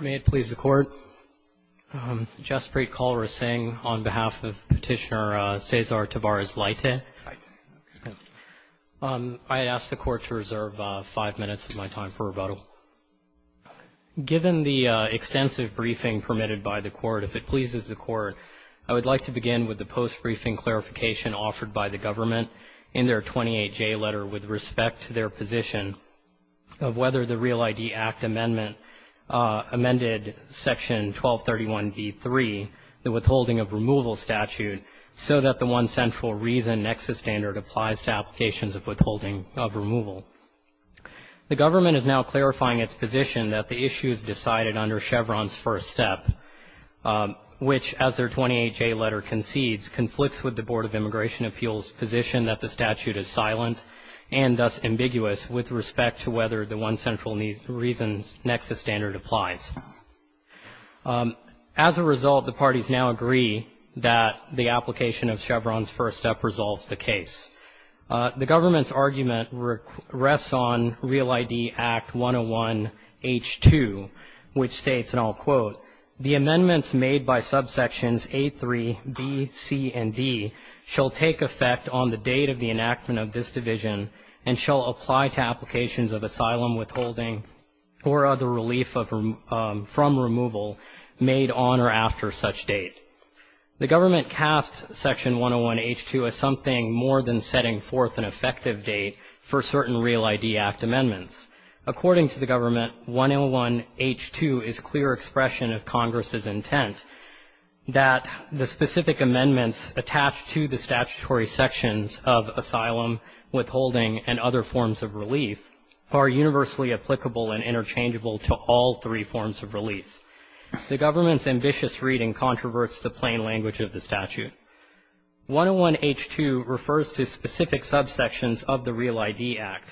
May it please the Court, Jaspreet Kaur Singh on behalf of Petitioner Cesar Tavares-Leite. I ask the Court to reserve five minutes of my time for rebuttal. Given the extensive briefing permitted by the Court, if it pleases the Court, I would like to begin with the post-briefing clarification offered by the government in their 28J letter with respect to their position of whether the Real ID Act Amendment amended Section 1231b3, the Withholding of Removal Statute, so that the one central reason nexus standard applies to applications of withholding of removal. The government is now clarifying its position that the issue is decided under Chevron's first step, which, as their 28J letter concedes, conflicts with the Board of Immigration Appeals' position that the statute is silent and thus ambiguous with respect to whether the one central reason nexus standard applies. As a result, the parties now agree that the application of Chevron's first step resolves the case. The government's argument rests on Real ID Act 101H2, which states, and I'll quote, the amendments made by subsections A3, B, C, and D shall take effect on the date of the enactment of this division and shall apply to applications of asylum withholding or other relief from removal made on or after such date. The government casts Section 101H2 as something more than setting forth an effective date for certain Real ID Act amendments. According to the government, 101H2 is clear expression of Congress's intent that the specific amendments attached to the statutory sections of asylum withholding and other forms of relief are universally applicable and interchangeable to all three forms of relief. The government's ambitious reading controverts the plain language of the statute. 101H2 refers to specific subsections of the Real ID Act.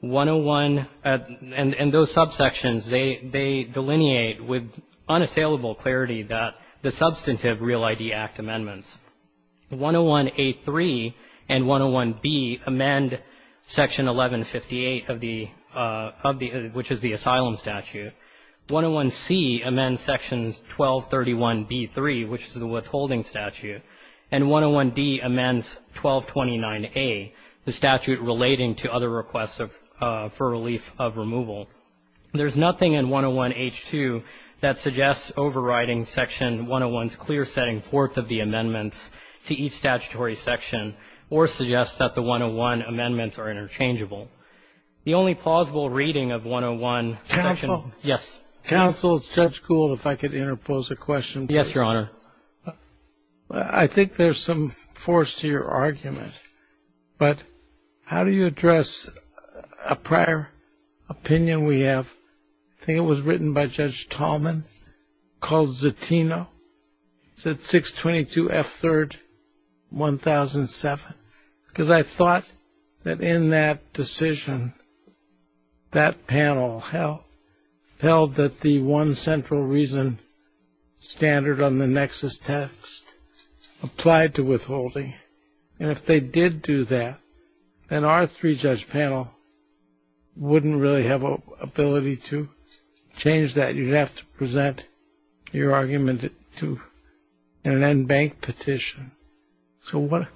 101, and those subsections, they delineate with unassailable clarity that the substantive Real ID Act amendments, 101A3 and 101B amend Section 1158 of the, which is the asylum statute. 101C amends Sections 1231B3, which is the withholding statute, and 101D amends 1229A, the statute relating to other requests of, for relief of removal. There's nothing in 101H2 that suggests overriding Section 101's clear setting forth of the amendments to each statutory section or suggests that the 101 amendments are interchangeable. The only plausible reading of 101, Section, yes. Counsel, Judge Gould, if I could interpose a question, please. Yes, Your Honor. I think there's some force to your argument, but how do you address a prior opinion we have? I think it was written by Judge Tallman called Zatino, said 622F3rd 1007. Because I thought that in that decision, that panel held that the one central reason standard on the nexus text applied to withholding, and if they did do that, then our three-judge panel wouldn't really have an ability to change that. You'd have to present your argument to an en banc petition. So what,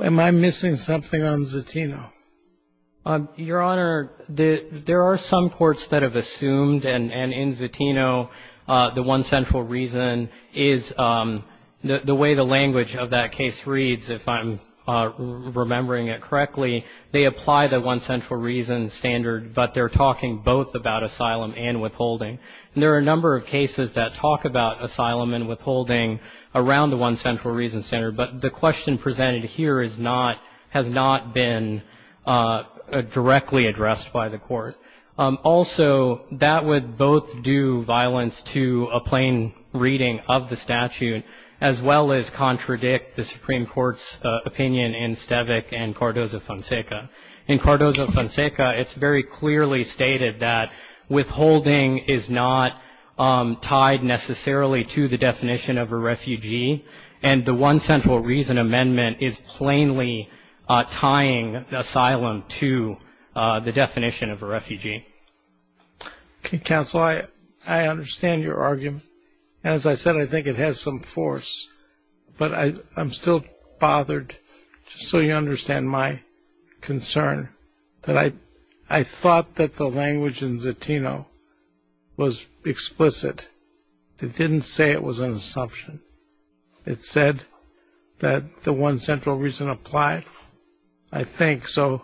am I missing something on Zatino? Your Honor, there are some courts that have assumed, and in Zatino, the one central reason is the way the language of that case reads, if I'm remembering it correctly, they apply the one central reason standard, but they're talking both about asylum and withholding. There are a number of cases that talk about asylum and withholding around the one central reason standard, but the question presented here is not, has not been directly addressed by the court. Also, that would both do violence to a plain reading of the statute, as well as contradict the Supreme Court's opinion in Stavik and Cardozo-Fonseca. In Cardozo-Fonseca, it's very clearly stated that withholding is not tied necessarily to the definition of a refugee, and the one central reason amendment is plainly tying asylum to the definition of a refugee. Okay, counsel, I understand your argument. As I said, I think it has some force, but I'm still bothered, just so you understand my concern, that I thought that the language in Zatino was explicit. It didn't say it was an assumption. It said that the one central reason applied. I think so.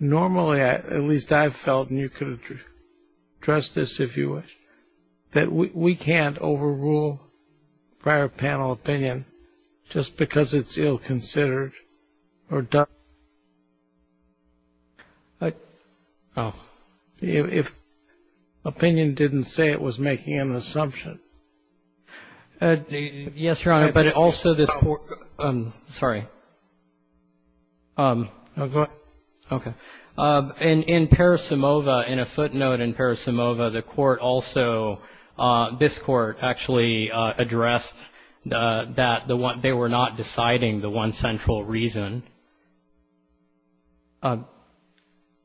Normally, at least I've felt, and you could address this if you wish, that we can't overrule prior panel opinion just because it's ill-considered or done. If opinion didn't say it was making an assumption. Yes, Your Honor, but also this Court — sorry. Go ahead. Okay. In Parasimova, in a footnote in Parasimova, the Court also — this Court actually addressed that the one — they were not deciding the one central reason.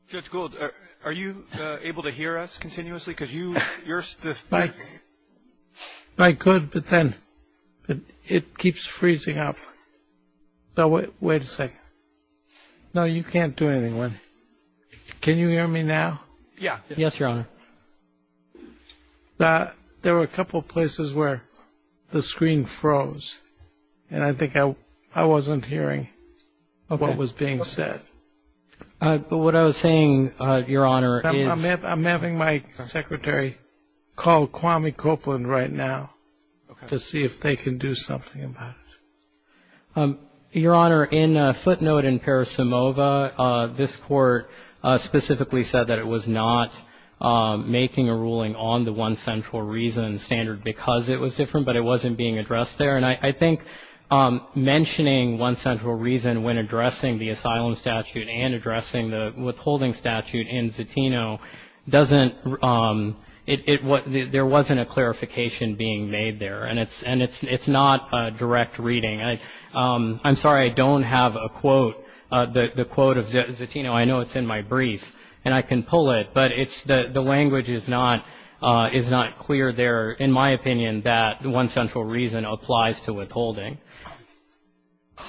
Judge Gould, are you able to hear us continuously? I could, but then it keeps freezing up. Wait a second. No, you can't do anything. Can you hear me now? Yes, Your Honor. There were a couple of places where the screen froze, and I think I wasn't hearing what was being said. What I was saying, Your Honor, is — I'm having my secretary call Kwame Copeland right now to see if they can do something about it. Your Honor, in a footnote in Parasimova, this Court specifically said that it was not making a ruling on the one central reason standard because it was different, but it wasn't being addressed there. And I think mentioning one central reason when addressing the asylum statute and addressing the withholding statute in Zatino doesn't — it — there wasn't a clarification being made there, and it's not a direct reading. I'm sorry, I don't have a quote, the quote of Zatino. I know it's in my brief, and I can pull it, but it's — the language is not clear there, in my opinion, that one central reason applies to withholding.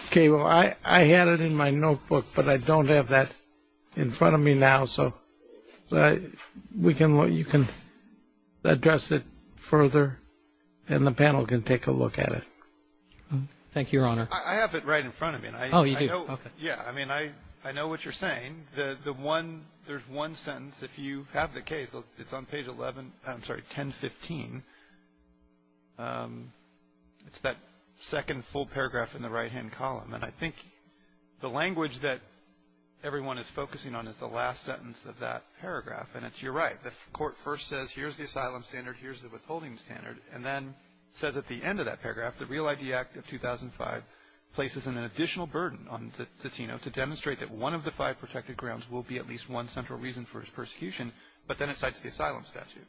Okay. Well, I had it in my notebook, but I don't have that in front of me now, so we can — you can address it further, and the panel can take a look at it. Thank you, Your Honor. I have it right in front of me. Oh, you do? Okay. Yeah. I mean, I know what you're saying. The one — there's one sentence. If you have the case, it's on page 11 — I'm sorry, 1015. It's that second full paragraph in the right-hand column, and I think the language that everyone is focusing on is the last sentence of that paragraph, and it's — you're right. The court first says, here's the asylum standard, here's the withholding standard, and then says at the end of that paragraph, the Real ID Act of 2005 places an additional burden on Zatino to demonstrate that one of the five protected grounds will be at least one central reason for his persecution, but then it cites the asylum statute,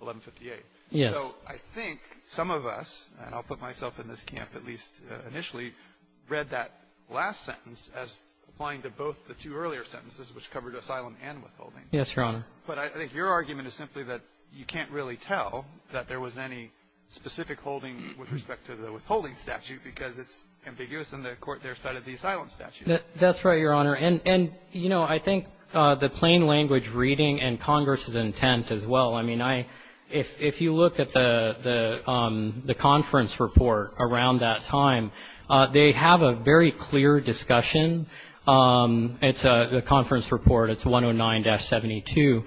1158. Yes. So I think some of us, and I'll put myself in this camp at least initially, read that last sentence as applying to both the two earlier sentences, which covered asylum and withholding. Yes, Your Honor. But I think your argument is simply that you can't really tell that there was any specific holding with respect to the withholding statute because it's ambiguous in the court there cited the asylum statute. That's right, Your Honor. And, you know, I think the plain language reading and Congress's intent as well — if you look at the conference report around that time, they have a very clear discussion. It's a conference report. It's 109-72.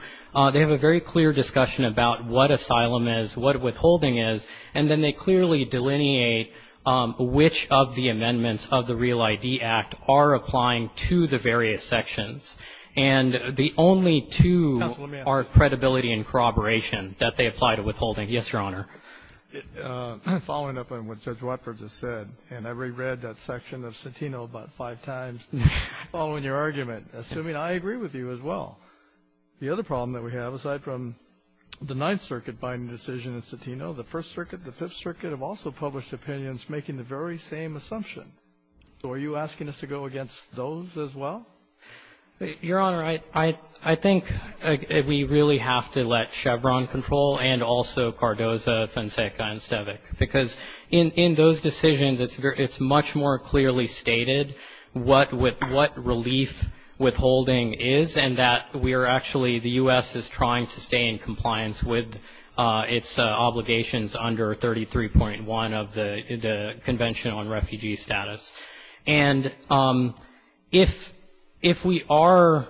They have a very clear discussion about what asylum is, what withholding is, and then they clearly delineate which of the amendments of the Real ID Act are applying to the various sections. And the only two are credibility and corroboration. That they apply to withholding. Yes, Your Honor. Following up on what Judge Watford just said, and I reread that section of Citino about five times following your argument, assuming I agree with you as well. The other problem that we have, aside from the Ninth Circuit binding decision in Citino, the First Circuit, the Fifth Circuit have also published opinions making the very same assumption. So are you asking us to go against those as well? Your Honor, I think we really have to let Chevron control and also Cardozo, Fonseca, and Stevic because in those decisions, it's much more clearly stated what relief withholding is and that we are actually — the U.S. is trying to stay in compliance with its obligations under 33.1 of the Convention on Refugee Status. And if we are —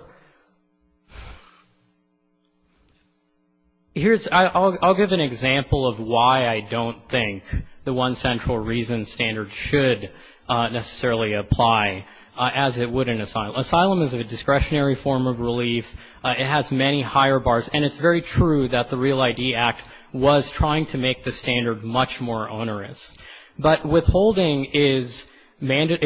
I'll give an example of why I don't think the one central reason standards should necessarily apply as it would in asylum. Asylum is a discretionary form of relief. It has many higher bars. And it's very true that the Real ID Act was trying to make the standard much more onerous. But withholding is — it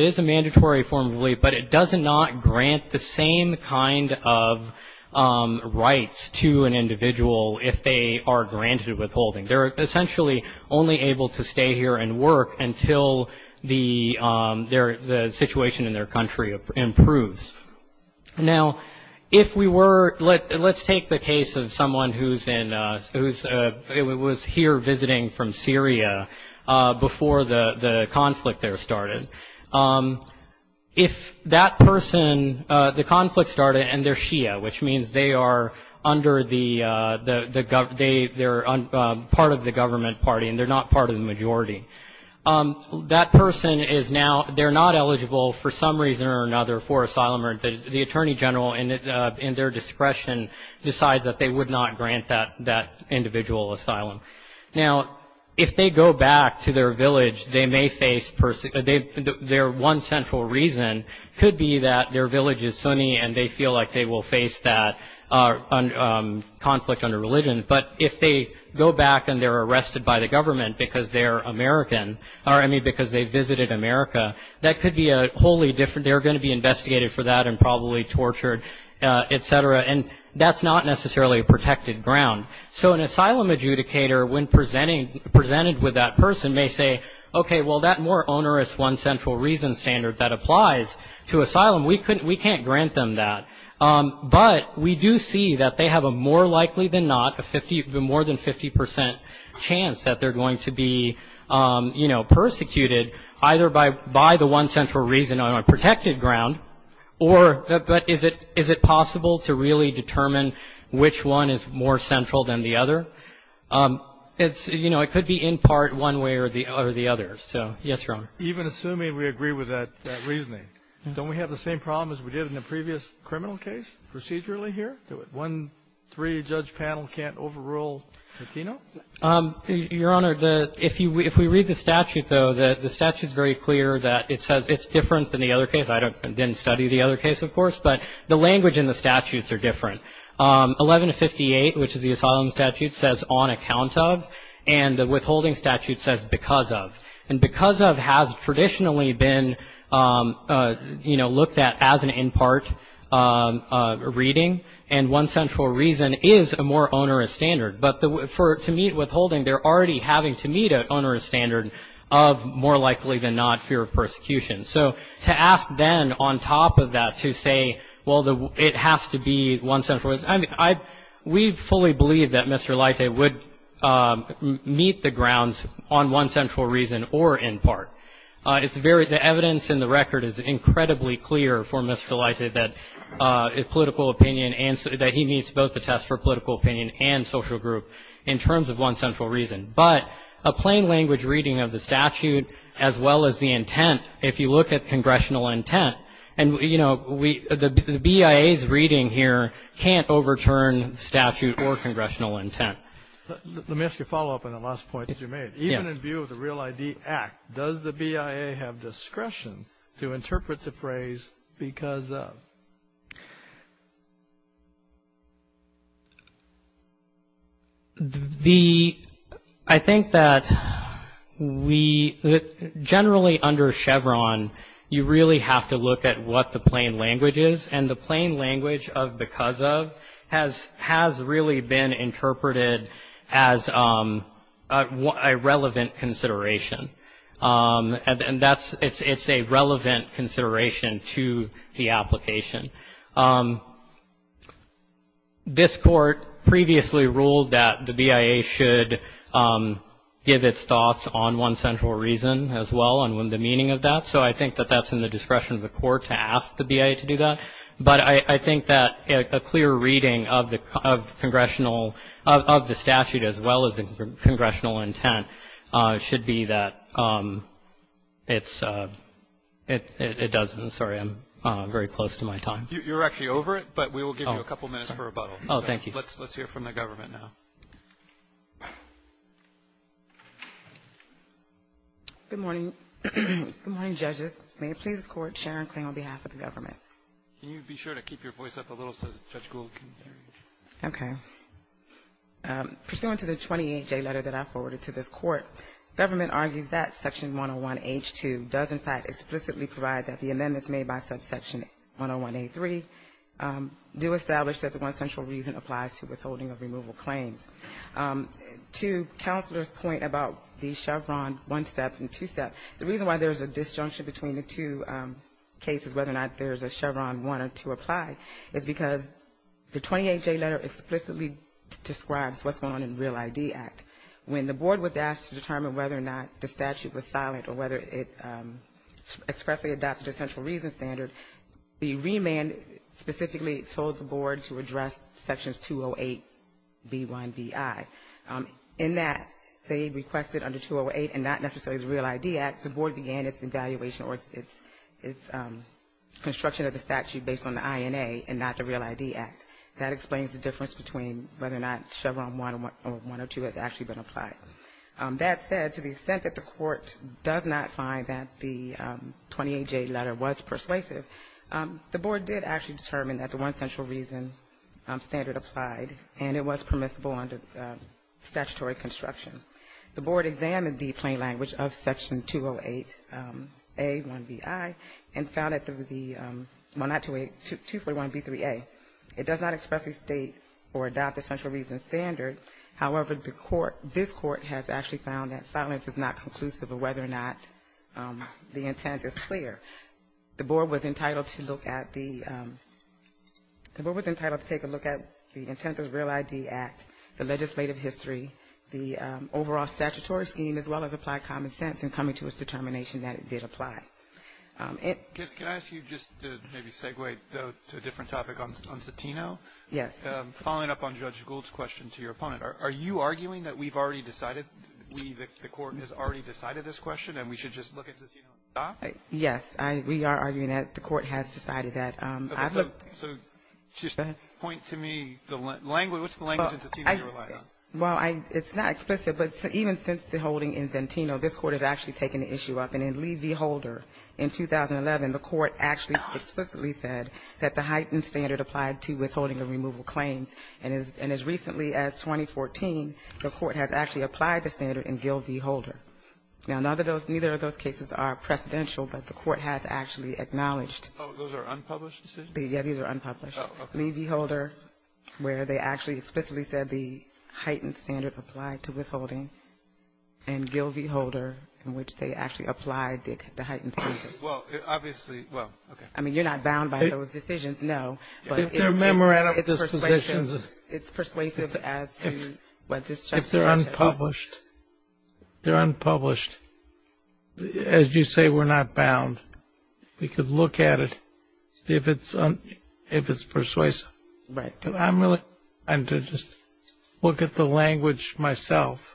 is a mandatory form of relief, but it does not grant the same kind of rights to an individual if they are granted withholding. They're essentially only able to stay here and work until the situation in their country improves. Now, if we were — let's take the case of someone who's in — who was here visiting from Syria before the conflict there started. If that person — the conflict started and they're Shia, which means they are under the — they're part of the government party and they're not part of the majority. That person is now — they're not eligible for some reason or another for asylum. The Attorney General, in their discretion, decides that they would not grant that individual asylum. Now, if they go back to their village, they may face — their one central reason could be that their village is Sunni and they feel like they will face that conflict under religion. But if they go back and they're arrested by the government because they're American, or I mean because they visited America, that could be a wholly different — they're going to be investigated for that and probably tortured, et cetera. And that's not necessarily a protected ground. So an asylum adjudicator, when presented with that person, may say, okay, well that more onerous one central reason standard that applies to asylum, we can't grant them that. But we do see that they have a more likely than not, a 50 — more than 50 percent chance that they're going to be, you know, persecuted, either by the one central reason on a protected ground or — but is it possible to really determine which one is more central than the other? It's — you know, it could be in part one way or the other. So, yes, Your Honor. Even assuming we agree with that reasoning, don't we have the same problem as we did in the previous criminal case, procedurally here? One — three judge panel can't overrule Latino? Your Honor, the — if you — if we read the statute, though, the statute's very clear that it says it's different than the other case. I don't — didn't study the other case, of course. But the language in the statutes are different. 11-58, which is the asylum statute, says on account of. And the withholding statute says because of. And because of has traditionally been, you know, looked at as an in part reading. And one central reason is a more onerous standard. But for — to meet withholding, they're already having to meet an onerous standard of more likely than not fear of persecution. So to ask then, on top of that, to say, well, the — it has to be one central — I mean, I — we fully believe that Mr. Laite would meet the grounds on one central reason or in part. It's very — the evidence in the record is incredibly clear for Mr. Laite that political opinion and — that he needs both a test for political opinion and social group in terms of one central reason. But a plain language reading of the statute, as well as the intent, if you look at congressional intent, and, you know, we — the BIA's reading here can't overturn statute or congressional intent. Let me ask you a follow-up on the last point that you made. Even in view of the Real ID Act, does the BIA have discretion to interpret the phrase because of? The — I think that we — generally under Chevron, you really have to look at what the plain language is. And the plain language of because of has really been interpreted as a relevant consideration. And that's — it's a relevant consideration to the application. This Court previously ruled that the BIA should give its thoughts on one central reason, as well, and the meaning of that. So I think that that's in the discretion of the Court to ask the BIA to do that. But I think that a clear reading of the congressional — of the statute, as well as the congressional intent, should be that it's — it doesn't — sorry, I'm very close to my time. You're actually over it, but we will give you a couple minutes for rebuttal. Oh, thank you. Let's hear from the government now. Good morning. Good morning, Judges. May it please the Court, Sharon Kling on behalf of the government. Can you be sure to keep your voice up a little so that Judge Gould can hear you? Okay. Pursuant to the 28J letter that I forwarded to this Court, government argues that Section 101H2 does, in fact, explicitly provide that the amendments made by subsection 101A3 do establish that the one central reason applies to withholding of removal claims. To Counselor's point about the Chevron one-step and two-step, the reason why there's a disjunction between the two cases, whether or not there's a Chevron one or two apply, is because the 28J letter explicitly describes what's going on in Real ID Act. When the board was asked to determine whether or not the statute was silent or whether it expressly adopted a central reason standard, the remand specifically told the board to address sections 208B1BI. In that, they requested under 208 and not necessarily the Real ID Act, the board began its evaluation or its construction of the statute based on the INA and not the Real ID Act. That explains the difference between whether or not Chevron one or one or two has actually been applied. That said, to the extent that the Court does not find that the 28J letter was persuasive, the board did actually determine that the one central reason standard applied, and it was permissible under statutory construction. The board examined the plain language of section 208A1BI and found that the, well, not 208, 241B3A. It does not expressly state or adopt a central reason standard. However, the court, this Court has actually found that silence is not conclusive of whether or not the intent is clear. The board was entitled to look at the, the board was entitled to take a look at the intent of the Real ID Act, the legislative history, the overall statutory scheme, as well as applied common sense in coming to its determination that it did apply. Can I ask you just to maybe segue to a different topic on Cetino? Yes. Following up on Judge Gould's question to your opponent, are you arguing that we've already decided, we, the Court, has already decided this question and we should just look at Cetino and stop? Yes. I, we are arguing that the Court has decided that I've looked at the Cetino case. So just point to me the language, what's the language in Cetino that you rely on? Well, I, it's not explicit, but even since the holding in Cetino, this Court has actually taken the issue up. And in Lee v. Holder in 2011, the Court actually explicitly said that the heightened standard applied to withholding and removal claims. And as recently as 2014, the Court has actually applied the standard in Gill v. Holder. Now, neither of those cases are precedential, but the Court has actually acknowledged. Oh, those are unpublished decisions? Yeah, these are unpublished. Oh, okay. Lee v. Holder, where they actually explicitly said the heightened standard applied to withholding, and Gill v. Holder, in which they actually applied the heightened standard. Well, obviously, well, okay. I mean, you're not bound by those decisions, no, but it's persuasive as to what this Justice has said. They're unpublished. They're unpublished. As you say, we're not bound. We could look at it if it's persuasive. Right. And I'm really, I'm to just look at the language myself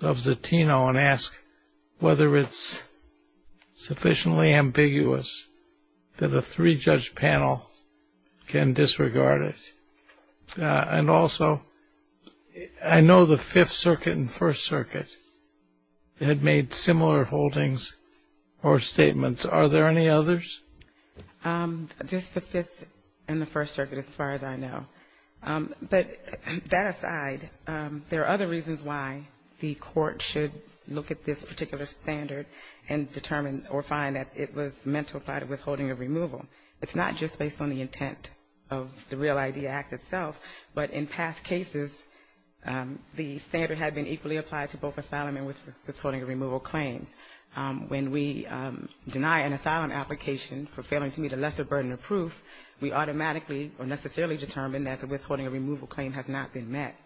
of Cetino and ask whether it's sufficiently ambiguous that a three-judge panel can disregard it. And also, I know the Fifth Circuit and First Circuit had made similar holdings or statements. Are there any others? Just the Fifth and the First Circuit, as far as I know. But that aside, there are other reasons why the Court should look at this particular standard and determine or find that it was meant to apply to withholding or removal. It's not just based on the intent of the REAL-ID Act itself, but in past cases, the standard had been equally applied to both asylum and withholding or removal claims. When we deny an asylum application for failing to meet a lesser burden of proof, we automatically or necessarily determine that the withholding or removal claim has not been met.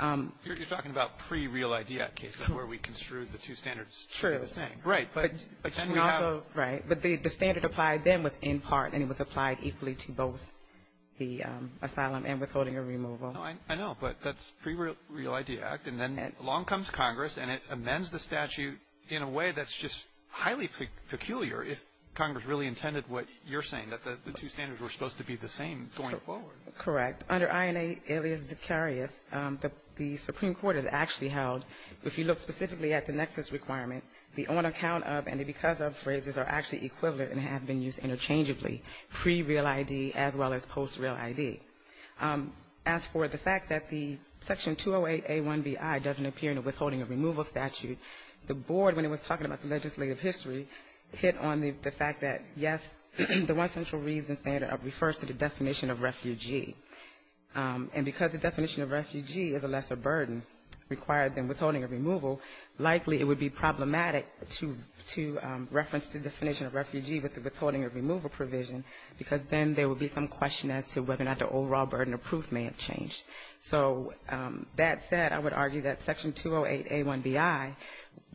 You're talking about pre-REAL-ID Act cases where we construed the two standards to be the same. Right. But again, we have Right. But the standard applied then was in part, and it was applied equally to both the asylum and withholding or removal. I know, but that's pre-REAL-ID Act. And then along comes Congress, and it amends the statute in a way that's just highly peculiar if Congress really intended what you're saying, that the two standards were supposed to be the same going forward. Correct. Under INA alias Zacarias, the Supreme Court has actually held, if you look specifically at the nexus requirement, the on-account-of and the because-of phrases are actually equivalent and have been used interchangeably, pre-REAL-ID as well as post-REAL-ID. As for the fact that the Section 208A1BI doesn't appear in the withholding or removal statute, the board, when it was talking about the legislative history, hit on the fact that, yes, the one central reason standard refers to the definition of refugee. And because the definition of refugee is a lesser burden required than withholding or removal, likely it would be problematic to reference the definition of refugee with the withholding or removal provision, because then there would be some question as to whether or not the overall burden of proof may have changed. So that said, I would argue that Section 208A1BI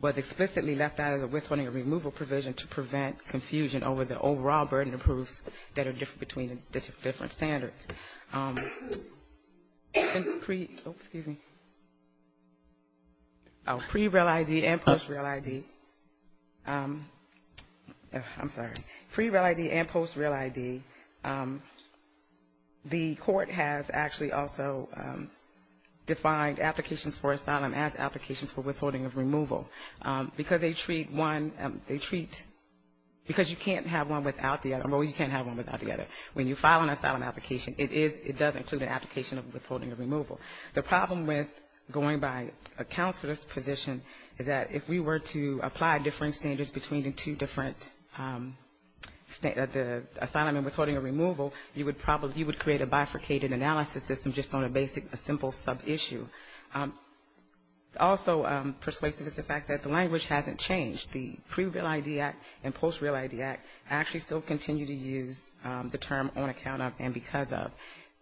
was explicitly left out of the withholding or removal provision to prevent confusion over the overall burden of proofs that are different between the different standards. Pre-REAL-ID and post-REAL-ID, I'm sorry, pre-REAL-ID and post-REAL-ID, the court has actually also defined applications for asylum as applications for withholding or removal, because they treat one, they treat, because you can't have one without the other, or you can't have one without the other. When you file an asylum application, it is, it does include an application of withholding or removal. The problem with going by a counselor's position is that if we were to apply different standards between the two different, the asylum and withholding or removal, you would probably, you would create a bifurcated analysis system just on a basic, a simple sub-issue. Also persuasive is the fact that the language hasn't changed. The pre-REAL-ID Act and post-REAL-ID Act actually still continue to use the term on account of and because of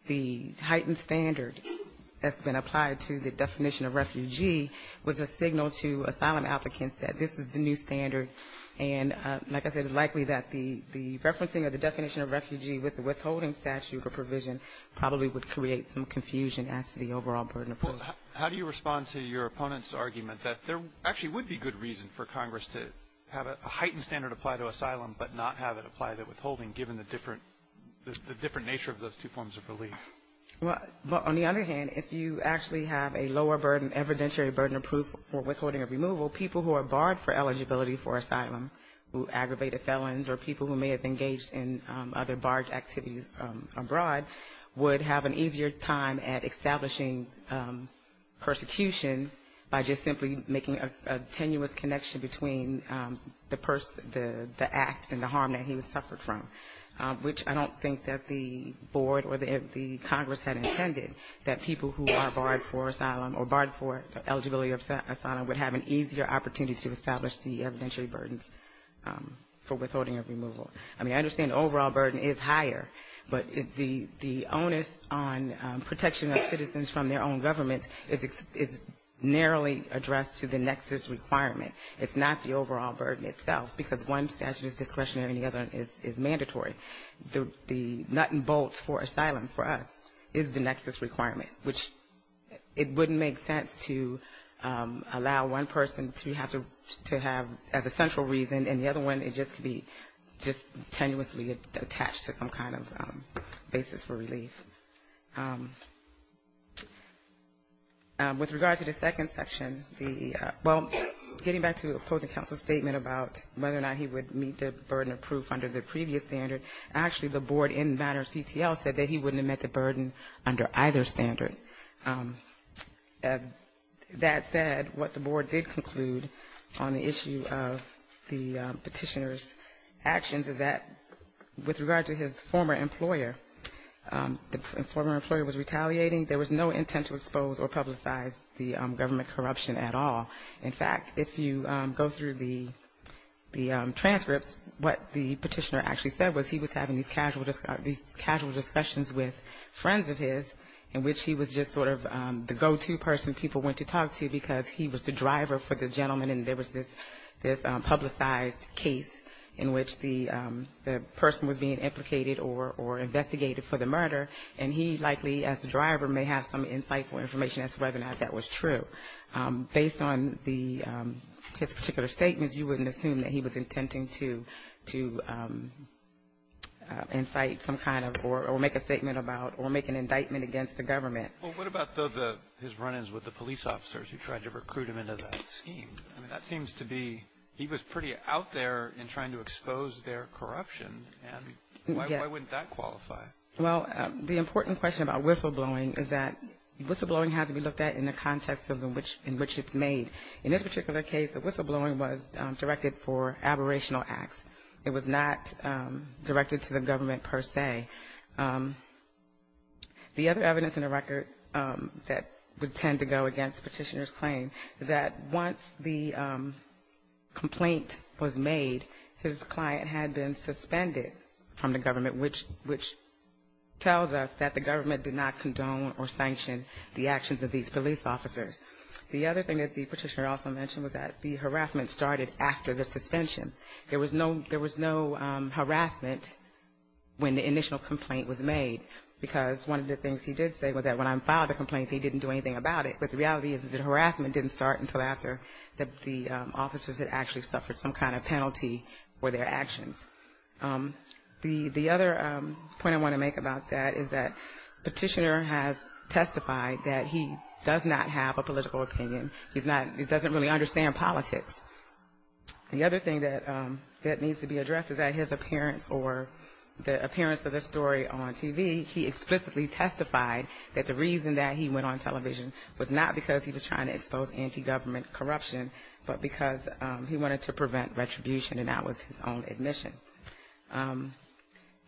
the heightened standard that's been applied to the definition of refugee was a signal to asylum applicants that this is the new standard. And like I said, it's likely that the referencing of the definition of refugee with the withholding statute or provision probably would create some confusion as to the overall burden of proof. How do you respond to your opponent's argument that there actually would be good reason for Congress to have a heightened standard apply to asylum, but not have it apply to withholding, given the different, the different nature of those two forms of relief? Well, but on the other hand, if you actually have a lower burden, evidentiary burden of proof for withholding or removal, people who are barred for eligibility for asylum, who aggravated felons or people who may have engaged in other barred activities abroad would have an easier time at establishing persecution by just simply making a tenuous connection between the act and the harm that he was suffered from, which I don't think that the board or the Congress had intended that people who are barred for asylum or barred for eligibility of asylum would have an easier opportunity to establish the evidentiary burdens for withholding or removal. I mean, I understand the overall burden is higher, but the onus on protection of citizens from their own government is narrowly addressed to the nexus requirement. It's not the overall burden itself, because one statute is discretionary and the other is mandatory. The nut and bolt for asylum for us is the nexus requirement, which it wouldn't make sense to allow one person to have to have as a central reason. And the other one, it just could be just tenuously attached to some kind of basis for relief. With regard to the second section, the well, getting back to opposing counsel's statement about whether or not he would meet the burden of proof under the previous standard, actually, the board in matter of CTL said that he wouldn't have met the burden under either standard. That said, what the board did conclude on the issue of the petitioner's actions is that with regard to his former employer, the former employer was retaliating. There was no intent to expose or publicize the government corruption at all. In fact, if you go through the transcripts, what the petitioner actually said was he was having these casual discussions with friends of his, in which he was just sort of the go-to person people went to talk to because he was the driver for the gentleman. And there was this publicized case in which the person was being implicated or investigated for the murder. And he likely, as the driver, may have some insightful information as to whether or not that was true. Based on his particular statements, you wouldn't assume that he was intending to incite some kind of, or make a statement about, or make an indictment against the government. Well, what about his run-ins with the police officers who tried to recruit him into that scheme? That seems to be, he was pretty out there in trying to expose their corruption. And why wouldn't that qualify? Well, the important question about whistleblowing is that whistleblowing has to be looked at in the context in which it's made. In this particular case, the whistleblowing was directed for aberrational acts. It was not directed to the government per se. The other evidence in the record that would tend to go against Petitioner's claim is that once the complaint was made, his client had been suspended from the government, which tells us that the government did not condone or sanction the actions of these police officers. The other thing that the Petitioner also mentioned was that the harassment started after the suspension. There was no harassment when the initial complaint was made, because one of the things he did say was that when I filed a complaint, he didn't do anything about it. But the reality is that harassment didn't start until after the officers had actually suffered some kind of penalty for their actions. The other point I want to make about that is that Petitioner has testified that he does not have a political opinion. He doesn't really understand politics. The other thing that needs to be addressed is that his appearance or the appearance of the story on TV, he explicitly testified that the reason that he went on television was not because he was trying to expose anti-government corruption, but because he wanted to prevent retribution, and that was his own admission.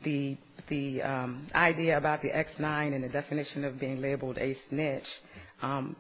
The idea about the X9 and the definition of being labeled a snitch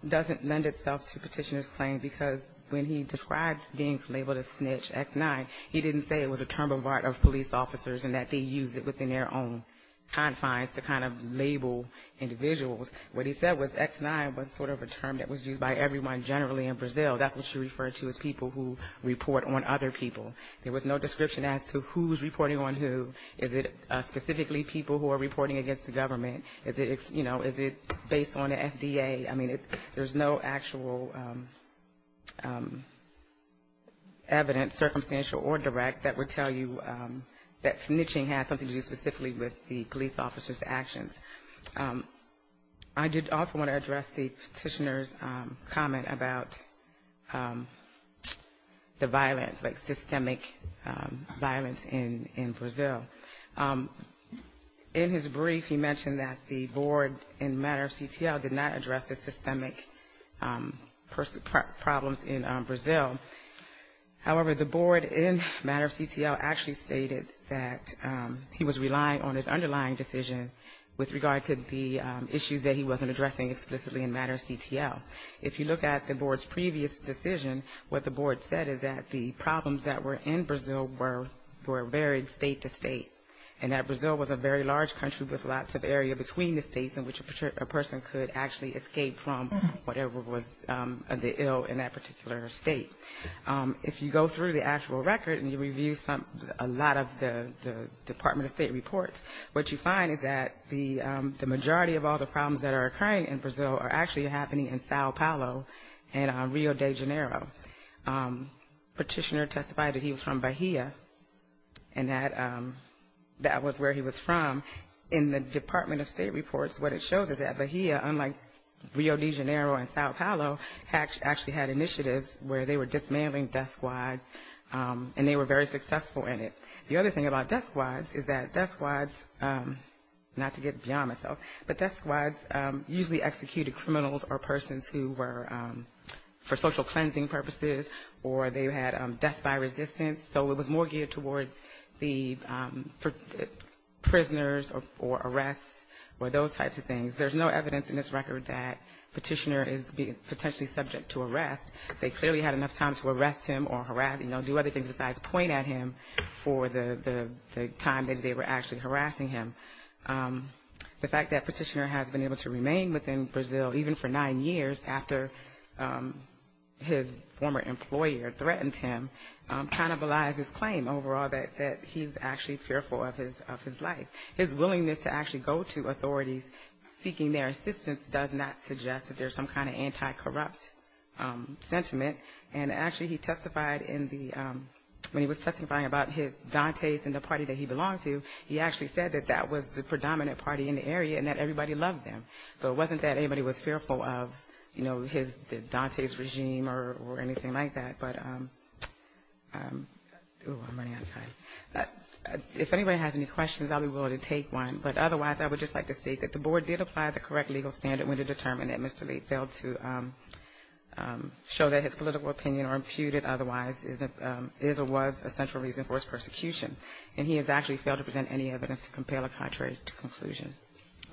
doesn't lend itself to Petitioner's claim, because when he describes being labeled a snitch, X9, he didn't say it was a term of art of police officers and that they use it within their own confines to kind of label individuals. What he said was X9 was sort of a term that was used by everyone generally in Brazil. That's what you refer to as people who report on other people. There was no description as to who's reporting on who. Is it specifically people who are reporting against the government? Is it, you know, is it based on the FDA? I mean, there's no actual evidence, circumstantial or direct, that would tell you that snitching has something to do specifically with the police officers' actions. I did also want to address the Petitioner's comment about the violence, like systemic violence in Brazil. In his brief, he mentioned that the board in matter of CTL did not address the systemic problems in Brazil. However, the board in matter of CTL actually stated that he was relying on his underlying decision with regard to the issues that he wasn't addressing explicitly in matter of CTL. If you look at the board's previous decision, what the board said is that the problems that were in Brazil were varied state to state. And that Brazil was a very large country with lots of area between the states in which a person could actually escape from whatever was the ill in that particular state. If you go through the actual record and you review a lot of the Department of State reports, what you find is that the majority of all the problems that are occurring in Brazil are actually happening in Sao Paulo and Rio de Janeiro. Petitioner testified that he was from Bahia and that that was where he was from. In the Department of State reports, what it shows is that Bahia, unlike Rio de Janeiro and Sao Paulo, actually had initiatives where they were dismantling death squads and they were very successful in it. The other thing about death squads is that death squads, not to get beyond myself, but death squads usually executed criminals or persons who were for social cleansing purposes or they had death by resistance. So it was more geared towards the prisoners or arrests or those types of things. There's no evidence in this record that Petitioner is potentially subject to arrest. They clearly had enough time to arrest him or do other things besides point at him for the time that they were actually harassing him. The fact that Petitioner has been able to remain within Brazil, even for nine years after his former employer threatened him, cannibalized his claim overall that he's actually fearful of his life. His willingness to actually go to authorities seeking their assistance does not suggest that there's some kind of anti-corrupt sentiment. And actually he testified in the, when he was testifying about his dantes and the party that he belonged to, he actually said that that was the predominant party in the area and that everybody loved them. So it wasn't that anybody was fearful of, you know, his dantes regime or anything like that. But if anybody has any questions, I'll be willing to take one. But otherwise, I would just like to state that the board did apply the correct legal standard when it determined that Mr. Petitioner's political opinion or imputed otherwise is or was a central reason for his persecution. And he has actually failed to present any evidence to compel a contrary conclusion.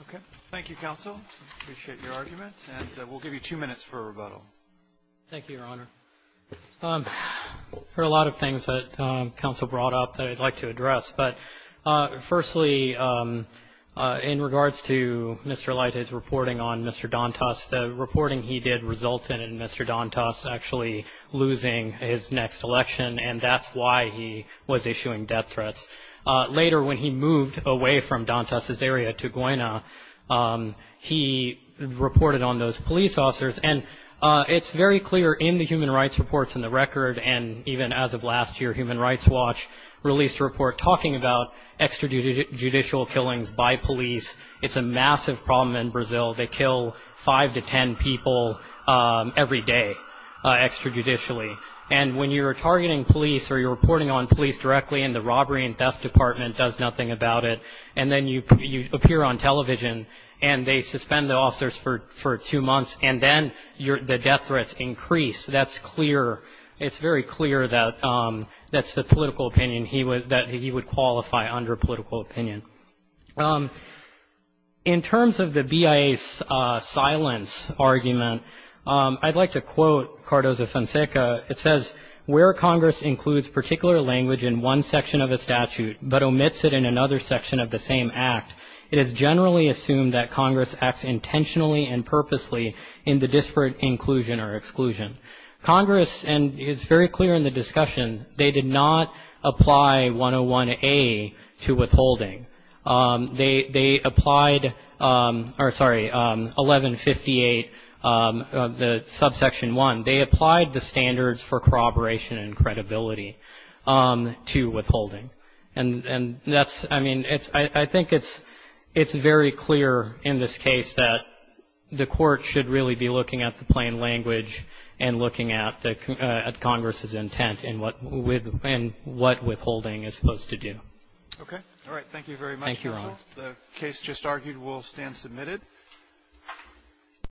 Okay. Thank you, counsel. Appreciate your argument. And we'll give you two minutes for a rebuttal. Thank you, Your Honor. There are a lot of things that counsel brought up that I'd like to address. But firstly, in regards to Mr. Dantas, the reporting he did resulted in Mr. Dantas actually losing his next election. And that's why he was issuing death threats. Later, when he moved away from Dantas' area to Goyna, he reported on those police officers. And it's very clear in the human rights reports in the record and even as of last year, Human Rights Watch released a report talking about extrajudicial killings by police. It's a massive problem in Brazil. They kill five to ten people every day extrajudicially. And when you're targeting police or you're reporting on police directly and the robbery and death department does nothing about it, and then you appear on television and they suspend the officers for two months and then the death threats increase. That's clear. It's very clear that that's the political opinion he was that he would qualify under political opinion. In terms of the BIA's silence argument, I'd like to quote Cardozo-Fonseca. It says, where Congress includes particular language in one section of a statute but omits it in another section of the same act, it is generally assumed that Congress acts intentionally and purposely in the disparate inclusion or exclusion. Congress, and it's very clear in the discussion, they did not apply 101A to withholding. They applied, or sorry, 1158, the subsection 1. They applied the standards for corroboration and credibility to withholding. And that's, I mean, I think it's very clear in this case that the court should really be looking at the plain language and looking at Congress's intent and what withholding is supposed to do. Okay. All right. Thank you very much. Thank you, Your Honor. The case just argued will stand submitted.